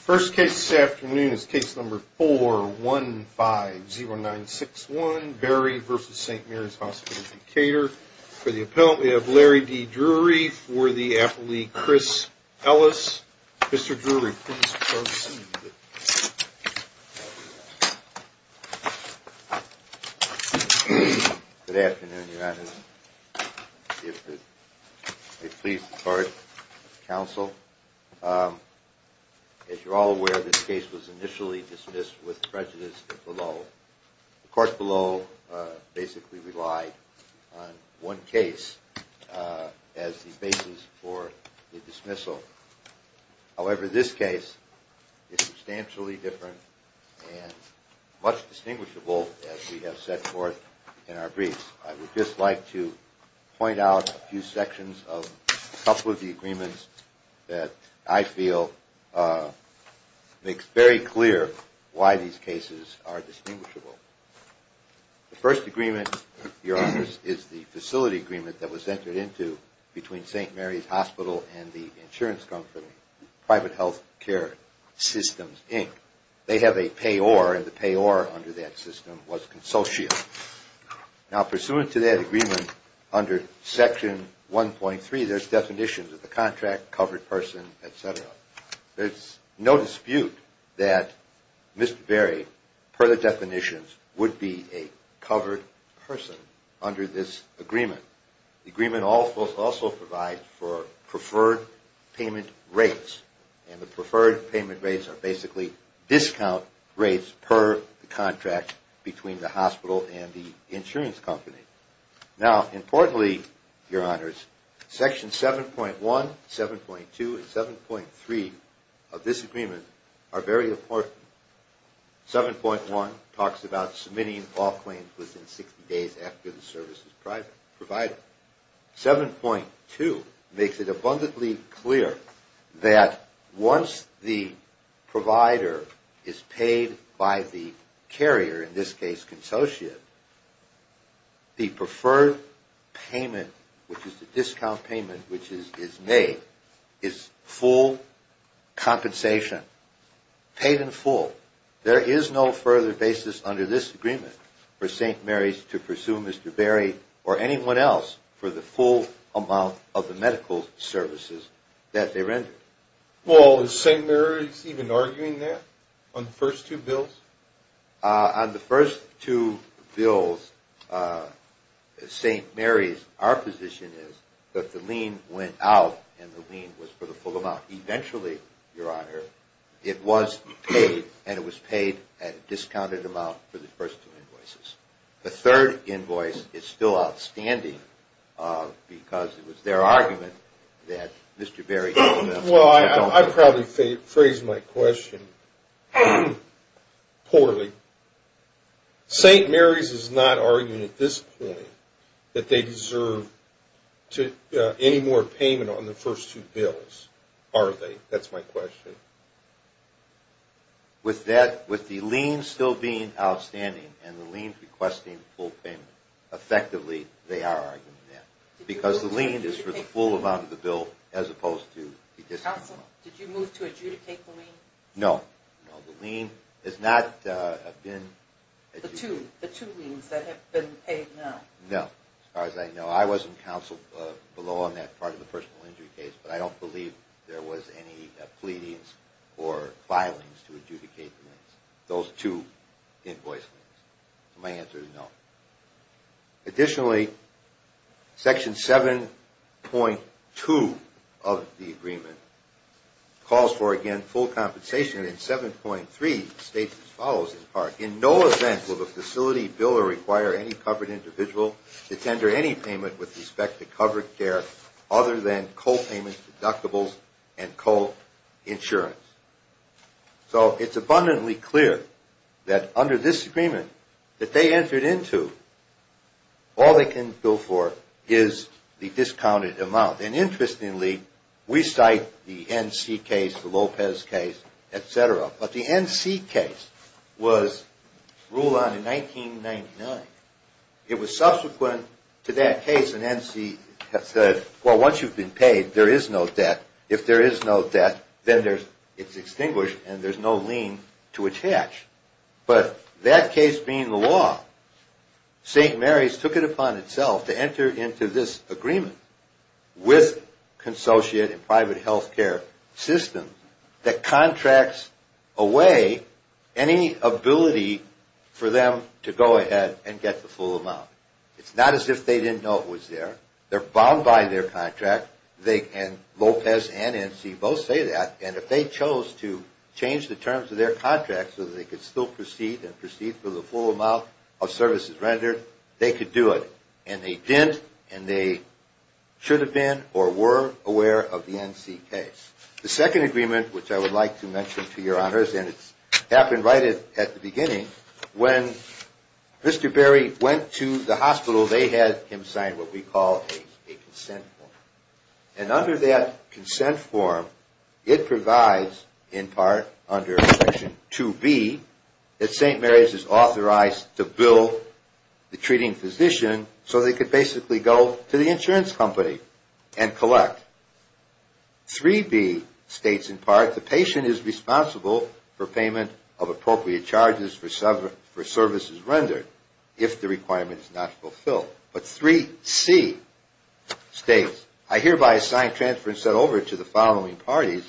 First case this afternoon is case number 4150961, Barry v. St. Mary's Hospital Decatur. For the appellant we have Larry D. Drury. For the appellee, Chris Ellis. Mr. Drury, please proceed. Good afternoon, Your Honor. I'm pleased to court counsel. As you're all aware, this case was initially dismissed with prejudice below. The court below basically relied on one case as the basis for the dismissal. However, this case is substantially different and much distinguishable as we have set forth in our briefs. I would just like to point out a few sections of a couple of the agreements that I feel makes very clear why these cases are distinguishable. The first agreement, Your Honor, is the facility agreement that was entered into between St. Mary's Hospital and the insurance company, Private Health Care Systems, Inc. They have a payor and the payor under that system was consultiant. Now pursuant to that agreement under section 1.3, there's definitions of the contract, covered person, etc. There's no dispute that Mr. Barry, per the definitions, would be a covered person under this agreement. The agreement also provides for preferred payment rates and the preferred payment rates are basically discount rates per the contract between the hospital and the insurance company. Now importantly, Your Honors, section 7.1, 7.2, and 7.3 of this agreement are very important. 7.1 talks about submitting all claims within 60 days after the service is provided. 7.2 makes it abundantly clear that once the provider is paid by the carrier, in this case, consultant, the preferred payment, which is the discount payment, which is made, is full compensation, paid in full. There is no further basis under this agreement for St. Mary's to pursue Mr. Barry or anyone else for the full amount of the medical services that they rendered. Well, is St. Mary's even arguing that on the first two bills? On the first two bills, St. Mary's, our position is that the lien went out and the lien was for the full amount. Eventually, Your Honor, it was paid, and it was paid at a discounted amount for the first two invoices. The third invoice is still outstanding because it was their argument that Mr. Barry or anyone else could take over. Well, I probably phrased my question poorly. St. Mary's is not arguing at this point that they deserve any more payment on the first two bills, are they? That's my question. With the lien still being outstanding and the lien requesting full payment, effectively, they are arguing that because the lien is for the full amount of the bill as opposed to the discounted amount. Counsel, did you move to adjudicate the lien? No. The lien has not been adjudicated. The two liens that have been paid now? No, as far as I know. I was in counsel below on that part of the personal injury case, but I don't believe there was any pleadings or filings to adjudicate those two invoice liens. So my answer is no. Additionally, Section 7.2 of the agreement calls for, again, full compensation, and in 7.3 states as follows in part, In no event will the facility biller require any covered individual to tender any payment with respect to covered care other than copayments, deductibles, and coinsurance. So it's abundantly clear that under this agreement that they entered into, all they can go for is the discounted amount. And interestingly, we cite the N.C. case, the Lopez case, etc., but the N.C. case was ruled on in 1999. It was subsequent to that case, and N.C. said, well, once you've been paid, there is no debt. If there is no debt, then it's extinguished and there's no lien to attach. But that case being the law, St. Mary's took it upon itself to enter into this agreement with consociate and private health care systems that contracts away any ability for them to go ahead and get the full amount. It's not as if they didn't know it was there. They're bound by their contract. And Lopez and N.C. both say that. And if they chose to change the terms of their contract so that they could still proceed and proceed for the full amount of services rendered, they could do it. And they didn't, and they should have been or were aware of the N.C. case. The second agreement, which I would like to mention to your honors, and it happened right at the beginning, when Mr. Berry went to the hospital, they had him sign what we call a consent form. And under that consent form, it provides, in part, under Section 2B, that St. Mary's is authorized to bill the treating physician so they could basically go to the insurance company and collect. 3B states, in part, the patient is responsible for payment of appropriate charges for services rendered if the requirement is not fulfilled. But 3C states, I hereby assign transfer and set over to the following parties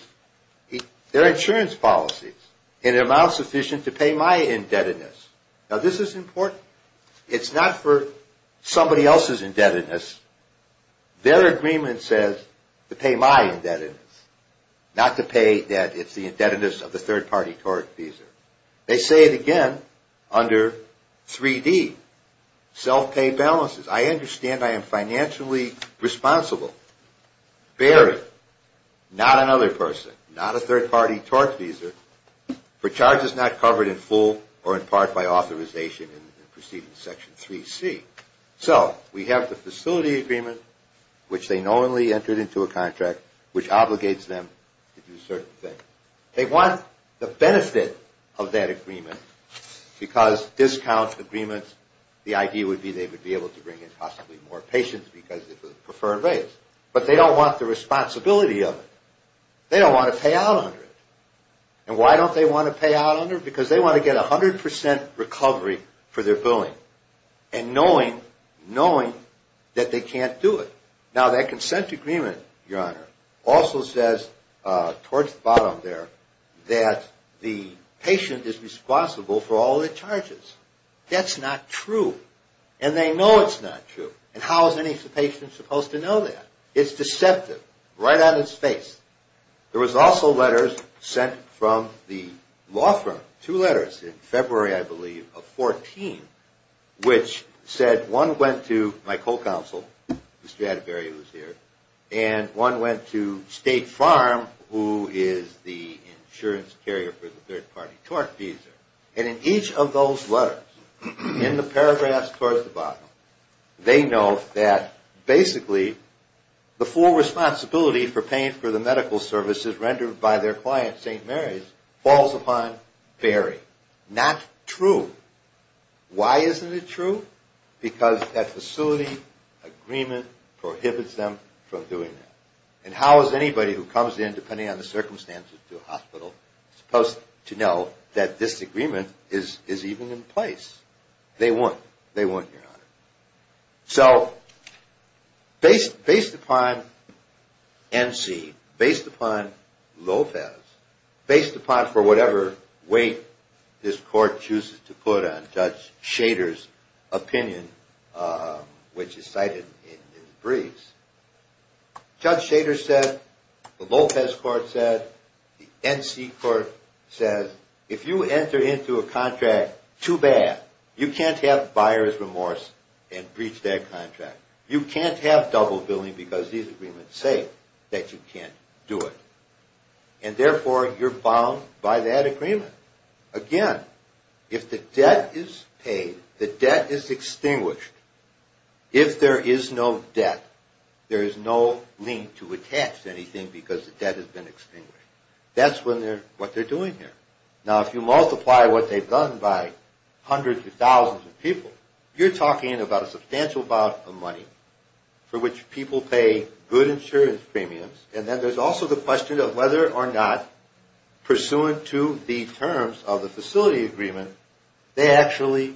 their insurance policies in an amount sufficient to pay my indebtedness. Now, this is important. It's not for somebody else's indebtedness. Their agreement says to pay my indebtedness, not to pay that it's the indebtedness of the third-party tort fees. They say it again under 3D, self-pay balances. I understand I am financially responsible. Berry, not another person, not a third-party tort fees, for charges not covered in full or in part by authorization in preceding Section 3C. So we have the facility agreement, which they knowingly entered into a contract, which obligates them to do certain things. They want the benefit of that agreement because discount agreements, the idea would be they would be able to bring in possibly more patients because of the preferred rates. But they don't want the responsibility of it. They don't want to pay out under it. And why don't they want to pay out under it? Because they want to get 100% recovery for their billing and knowing that they can't do it. Now, that consent agreement, Your Honor, also says towards the bottom there that the patient is responsible for all the charges. That's not true. And they know it's not true. And how is any patient supposed to know that? It's deceptive, right on its face. There was also letters sent from the law firm, two letters in February, I believe, of 14, which said one went to my co-counsel, Mr. Atterbury, who's here, and one went to State Farm, who is the insurance carrier for the third-party tort fees. And in each of those letters, in the paragraphs towards the bottom, they know that basically the full responsibility for paying for the medical services rendered by their client, St. Mary's, falls upon Barry. Not true. Why isn't it true? Because that facility agreement prohibits them from doing that. And how is anybody who comes in, depending on the circumstances, to a hospital supposed to know that this agreement is even in place? They wouldn't. So based upon NC, based upon Lopez, based upon for whatever weight this court chooses to put on Judge Shader's opinion, which is cited in his briefs, Judge Shader said, the Lopez court said, the NC court says, if you enter into a contract too bad, you can't have buyer's remorse and breach that contract. You can't have double billing because these agreements say that you can't do it. And therefore, you're bound by that agreement. Again, if the debt is paid, the debt is extinguished. If there is no debt, there is no link to attach anything because the debt has been extinguished. That's what they're doing here. Now, if you multiply what they've done by hundreds of thousands of people, you're talking about a substantial amount of money for which people pay good insurance premiums. And then there's also the question of whether or not, pursuant to the terms of the facility agreement, they actually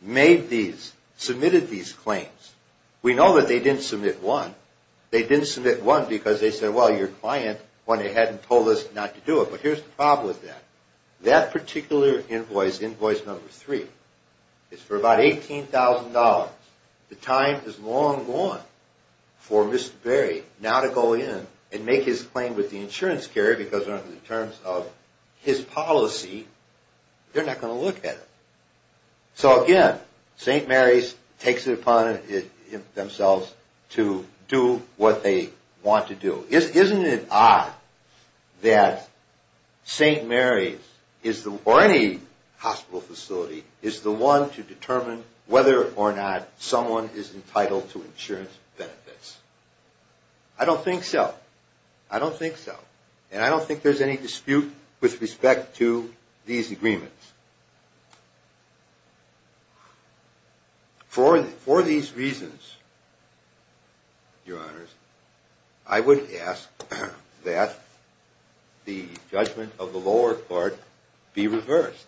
made these, submitted these claims. We know that they didn't submit one. They didn't submit one because they said, well, your client went ahead and told us not to do it. But here's the problem with that. That particular invoice, invoice number three, is for about $18,000. The time is long gone for Mr. Berry now to go in and make his claim with the insurance carrier because under the terms of his policy, they're not going to look at it. So again, St. Mary's takes it upon themselves to do what they want to do. Isn't it odd that St. Mary's or any hospital facility is the one to determine whether or not someone is entitled to insurance benefits? I don't think so. I don't think so. And I don't think there's any dispute with respect to these agreements. For these reasons, Your Honors, I would ask that the judgment of the lower court be reversed.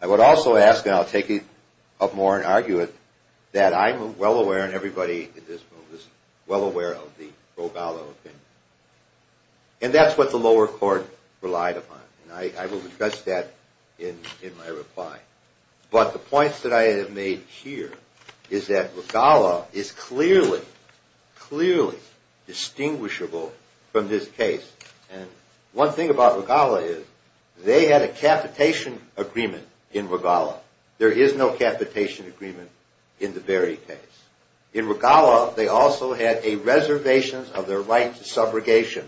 I would also ask, and I'll take it up more and argue it, that I'm well aware and everybody in this room is well aware of the Roballo opinion. And that's what the lower court relied upon. And I will address that in my reply. But the points that I have made here is that Regala is clearly, clearly distinguishable from this case. And one thing about Regala is they had a capitation agreement in Regala. There is no capitation agreement in the Berry case. In Regala, they also had a reservation of their right to subrogation.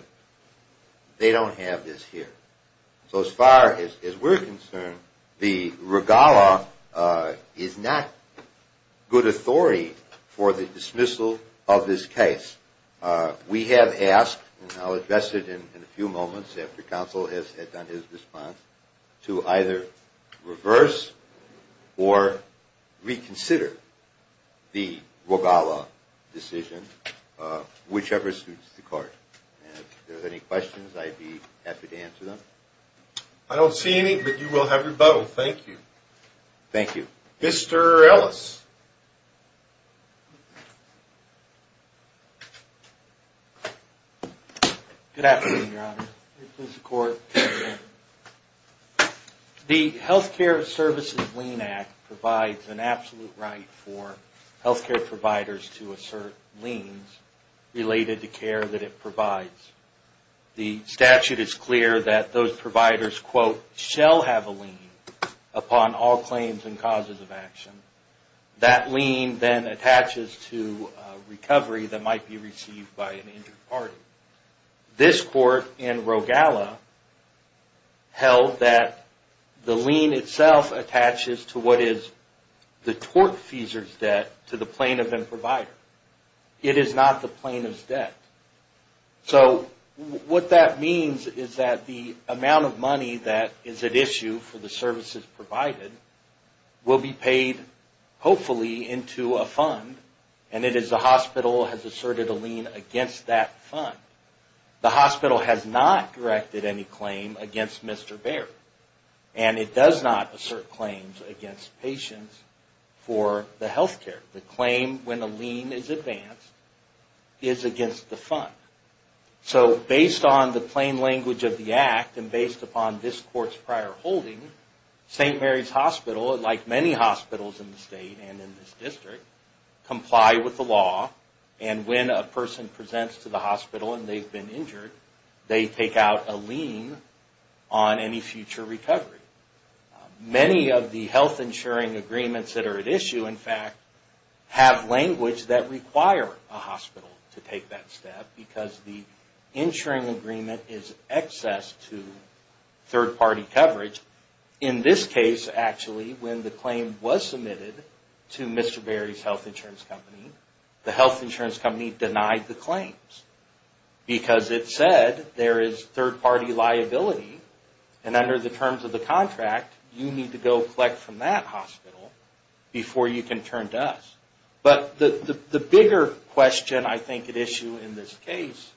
They don't have this here. So as far as we're concerned, the Regala is not good authority for the dismissal of this case. We have asked, and I'll address it in a few moments after counsel has done his response, to either reverse or reconsider the Regala decision, whichever suits the court. And if there's any questions, I'd be happy to answer them. I don't see any, but you will have your butthole. Thank you. Thank you. Mr. Ellis. Good afternoon, Your Honor. This is the court. The Health Care Services Lien Act provides an absolute right for health care providers to assert liens related to care that it provides. The statute is clear that those providers, quote, shall have a lien upon all claims and causes of action. That lien then attaches to recovery that might be received by an injured party. This court in Regala held that the lien itself attaches to what is the tort fees or debt to the plaintiff and provider. It is not the plaintiff's debt. So what that means is that the amount of money that is at issue for the services provided will be paid, hopefully, into a fund. And it is the hospital has asserted a lien against that fund. The hospital has not directed any claim against Mr. Baird. And it does not assert claims against patients for the health care. The claim when a lien is advanced is against the fund. So based on the plain language of the act and based upon this court's prior holding, St. Mary's Hospital, like many hospitals in the state and in this district, comply with the law. And when a person presents to the hospital and they've been injured, they take out a lien on any future recovery. Many of the health insuring agreements that are at issue, in fact, have language that require a hospital to take that step because the insuring agreement is excess to third-party coverage. In this case, actually, when the claim was submitted to Mr. Baird's health insurance company, the health insurance company denied the claims because it said there is third-party liability. And under the terms of the contract, you need to go collect from that hospital before you can turn to us. But the bigger question I think at issue in this case,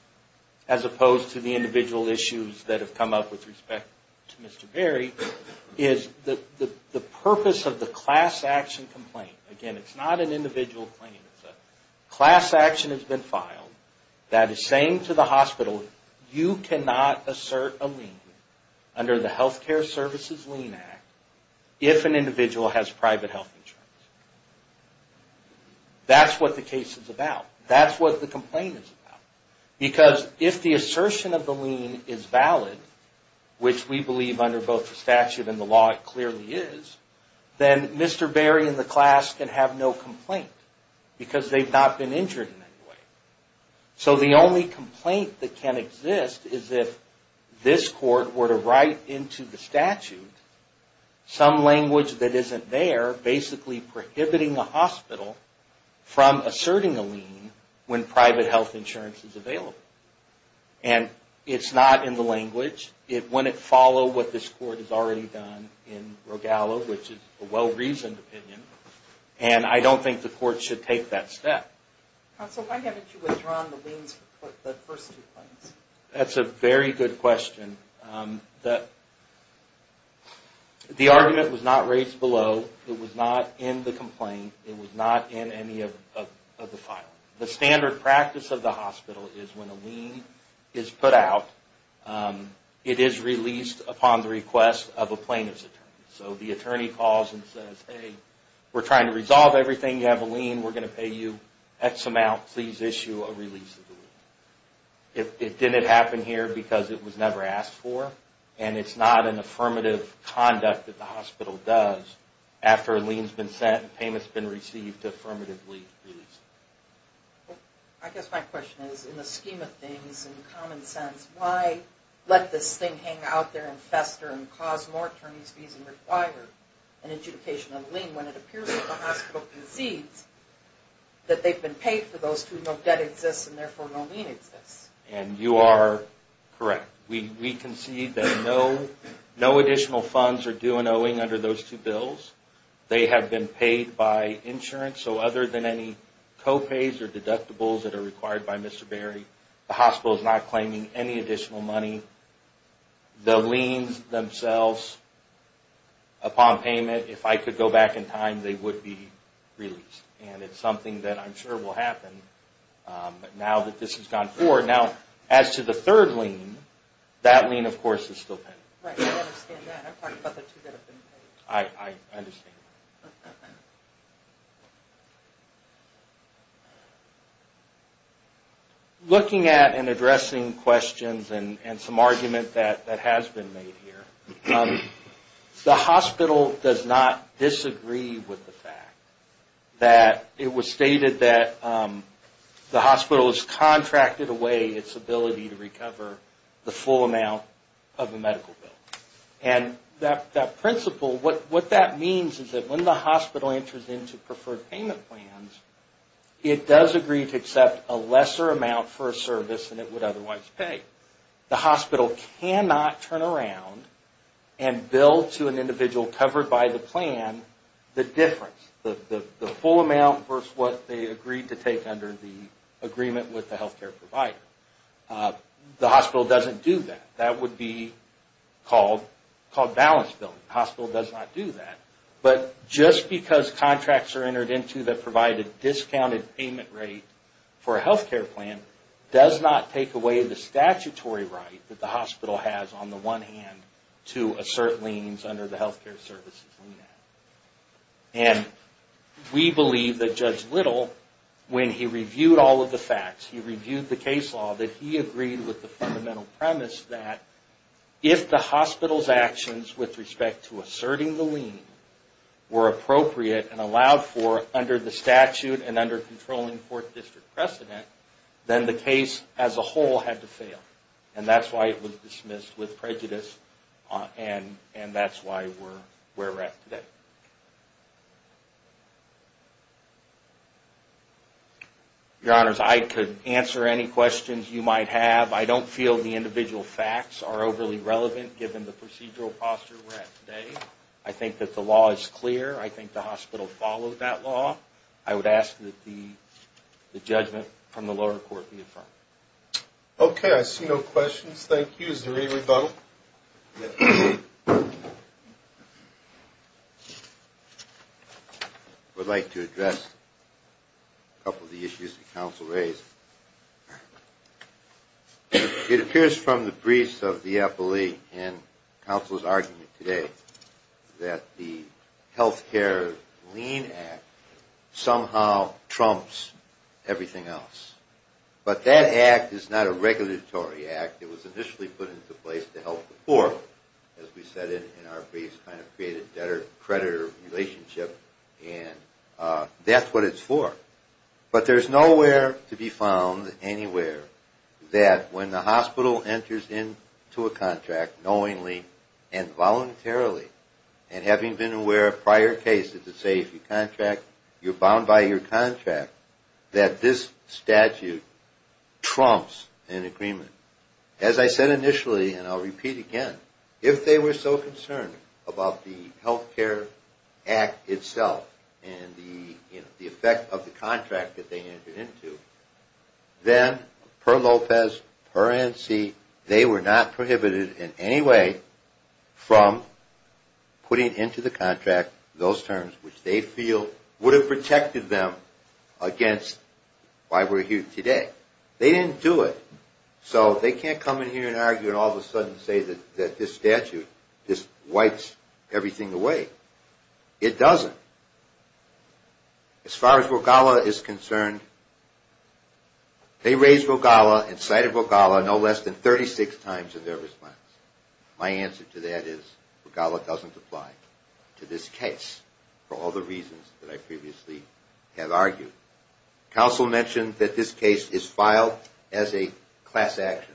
as opposed to the individual issues that have come up with respect to Mr. Baird, is the purpose of the class action complaint. Again, it's not an individual claim. Class action has been filed that is saying to the hospital, you cannot assert a lien under the Health Care Services Lien Act if an individual has private health insurance. That's what the case is about. That's what the complaint is about. Because if the assertion of the lien is valid, which we believe under both the statute and the law it clearly is, then Mr. Baird and the class can have no complaint because they've not been injured in any way. So the only complaint that can exist is if this court were to write into the statute some language that isn't there, basically prohibiting the hospital from asserting a lien when private health insurance is available. And it's not in the language. It wouldn't follow what this court has already done in Rogallo, which is a well-reasoned opinion. And I don't think the court should take that step. That's a very good question. The argument was not raised below. It was not in the complaint. It was not in any of the filing. The standard practice of the hospital is when a lien is put out, it is released upon the request of a plaintiff's attorney. So the attorney calls and says, hey, we're trying to resolve everything. You have a lien. We're going to pay you X amount. Please issue a release of the lien. It didn't happen here because it was never asked for. And it's not an affirmative conduct that the hospital does after a lien has been sent and payment has been received, it's a deferment of lien release. I guess my question is, in the scheme of things, in common sense, why let this thing hang out there and fester and cause more attorney's fees and require an adjudication of a lien when it appears that the hospital concedes that they've been paid for those two, no debt exists and therefore no lien exists? And you are correct. We concede that no additional funds are due and owing under those two bills. They have been paid by insurance, so other than any co-pays or deductibles that are required by Mr. Berry, the hospital is not claiming any additional money. The liens themselves, upon payment, if I could go back in time, they would be released. And it's something that I'm sure will happen now that this has gone forward. Now, as to the third lien, that lien, of course, is still pending. Looking at and addressing questions and some argument that has been made here, the hospital does not disagree with the fact that it was stated that the hospital would pay its ability to recover the full amount of a medical bill. And that principle, what that means is that when the hospital enters into preferred payment plans, it does agree to accept a lesser amount for a service than it would otherwise pay. The hospital cannot turn around and bill to an individual covered by the plan the difference, the full amount versus what they agreed to take under the agreement with the healthcare provider. The hospital doesn't do that. That would be called balance billing. The hospital does not do that. But just because contracts are entered into that provide a discounted payment rate for a healthcare plan does not take away the statutory right that the hospital has on the one hand to assert liens under the healthcare services lien act. And we believe that Judge Little, when he reviewed all of the facts, he reviewed the case law, that he agreed with the fundamental premise that if the hospital's actions with respect to asserting the lien were appropriate and allowed for under the statute and under controlling court district precedent, then the case as a whole had to fail. And that's why it was dismissed with prejudice and that's why we're where we're at today. Your Honors, I could answer any questions you might have. I don't feel the individual facts are overly relevant given the procedural posture we're at today. I think that the law is clear. I think the hospital follows that law. I would ask that the judgment from the lower court be affirmed. Okay. I see no questions. Thank you. Is there any rebuttal? I would like to address a couple of the issues that counsel raised. It appears from the briefs of the appellee and counsel's argument today that the healthcare lien act somehow trumps everything else. But that act is not a regulatory act. It was initially put into place to help the poor, as we said in our briefs, kind of create a debtor-creditor relationship, and that's what it's for. But there's nowhere to be found anywhere that when the hospital enters into a contract knowingly and voluntarily, and having been aware of prior cases that say if you contract, you're bound by your contract, that this statute is in effect. That this statute trumps an agreement. As I said initially, and I'll repeat again, if they were so concerned about the healthcare act itself and the effect of the contract that they entered into, then per Lopez, per ANSI, they were not prohibited in any way from putting into the contract those terms which they feel would have protected them against why we're here today. They didn't do it. So they can't come in here and argue and all of a sudden say that this statute just wipes everything away. It doesn't. As far as Rogala is concerned, they raised Rogala and cited Rogala no less than 36 times in their response. My answer to that is Rogala doesn't apply to this case for all the reasons that I previously have argued. Counsel mentioned that this case is filed as a class action.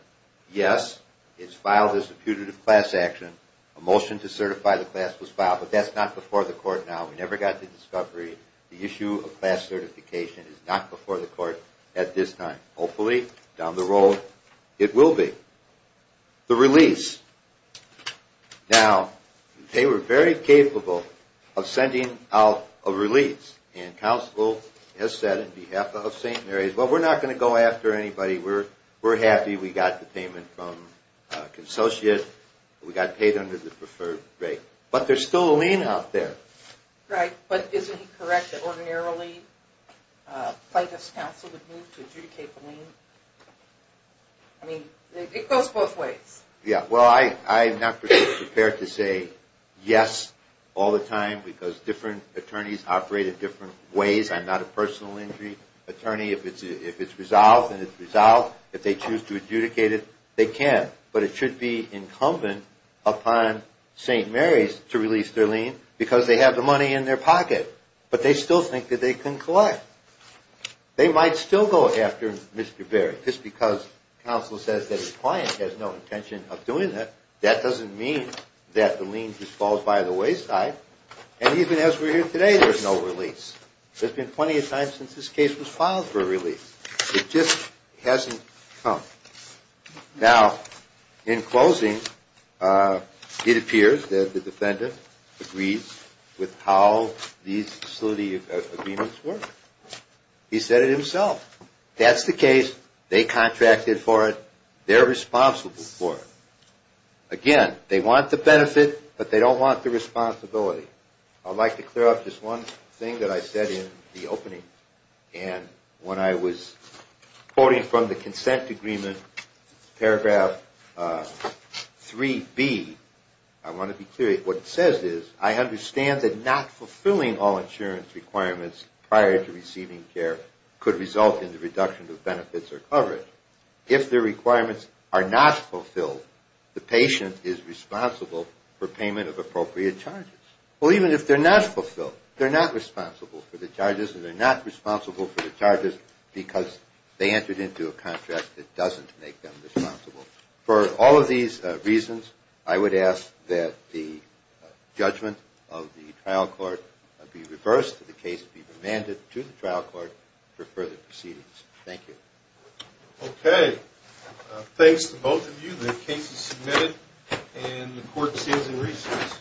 Yes, it's filed as a putative class action. A motion to certify the class was filed, but that's not before the court now. We never got the discovery. The issue of class certification is not before the court at this time. Hopefully, down the road, it will be. The release. Now, they were very capable of sending out a release, and counsel has said on behalf of St. Mary's, well, we're not going to go after anybody. We're happy we got the payment from a consociate. We got paid under the preferred rate. But there's still a lien out there. Right, but isn't it correct that ordinarily plaintiff's counsel would move to adjudicate the lien? I mean, it goes both ways. Yeah, well, I'm not prepared to say yes all the time because different attorneys operate in different ways. I'm not a personal injury attorney. If it's resolved and it's resolved, if they choose to adjudicate it, they can, but it should be incumbent upon St. Mary's to release their lien because they have the money in their pocket, but they still think that they can collect. They might still go after Mr. Berry just because counsel says that his client has no intention of doing that. That doesn't mean that the lien just falls by the wayside, and even as we're here today, there's no release. There's been plenty of times since this case was filed for a release. It just hasn't come. Now, in closing, it appears that the defendant agrees with how these facility agreements work. He said it himself. That's the case. They contracted for it. They're responsible for it. Again, they want the benefit, but they don't want the responsibility. I'd like to clear up just one thing that I said in the opening, and when I was quoting from the consent agreement, paragraph 3B, I want to be clear. What it says is, I understand that not fulfilling all insurance requirements prior to receiving care could result in the reduction of benefits or coverage. If the requirements are not fulfilled, the patient is responsible for payment of appropriate charges. Well, even if they're not fulfilled, they're not responsible for the charges, and they're not responsible for the charges because they entered into a contract that doesn't make them responsible. For all of these reasons, I would ask that the judgment of the trial court be reversed, that the case be remanded to the trial court for further proceedings. Thank you. Okay. Thanks to both of you. The case is submitted, and the court stands in recess.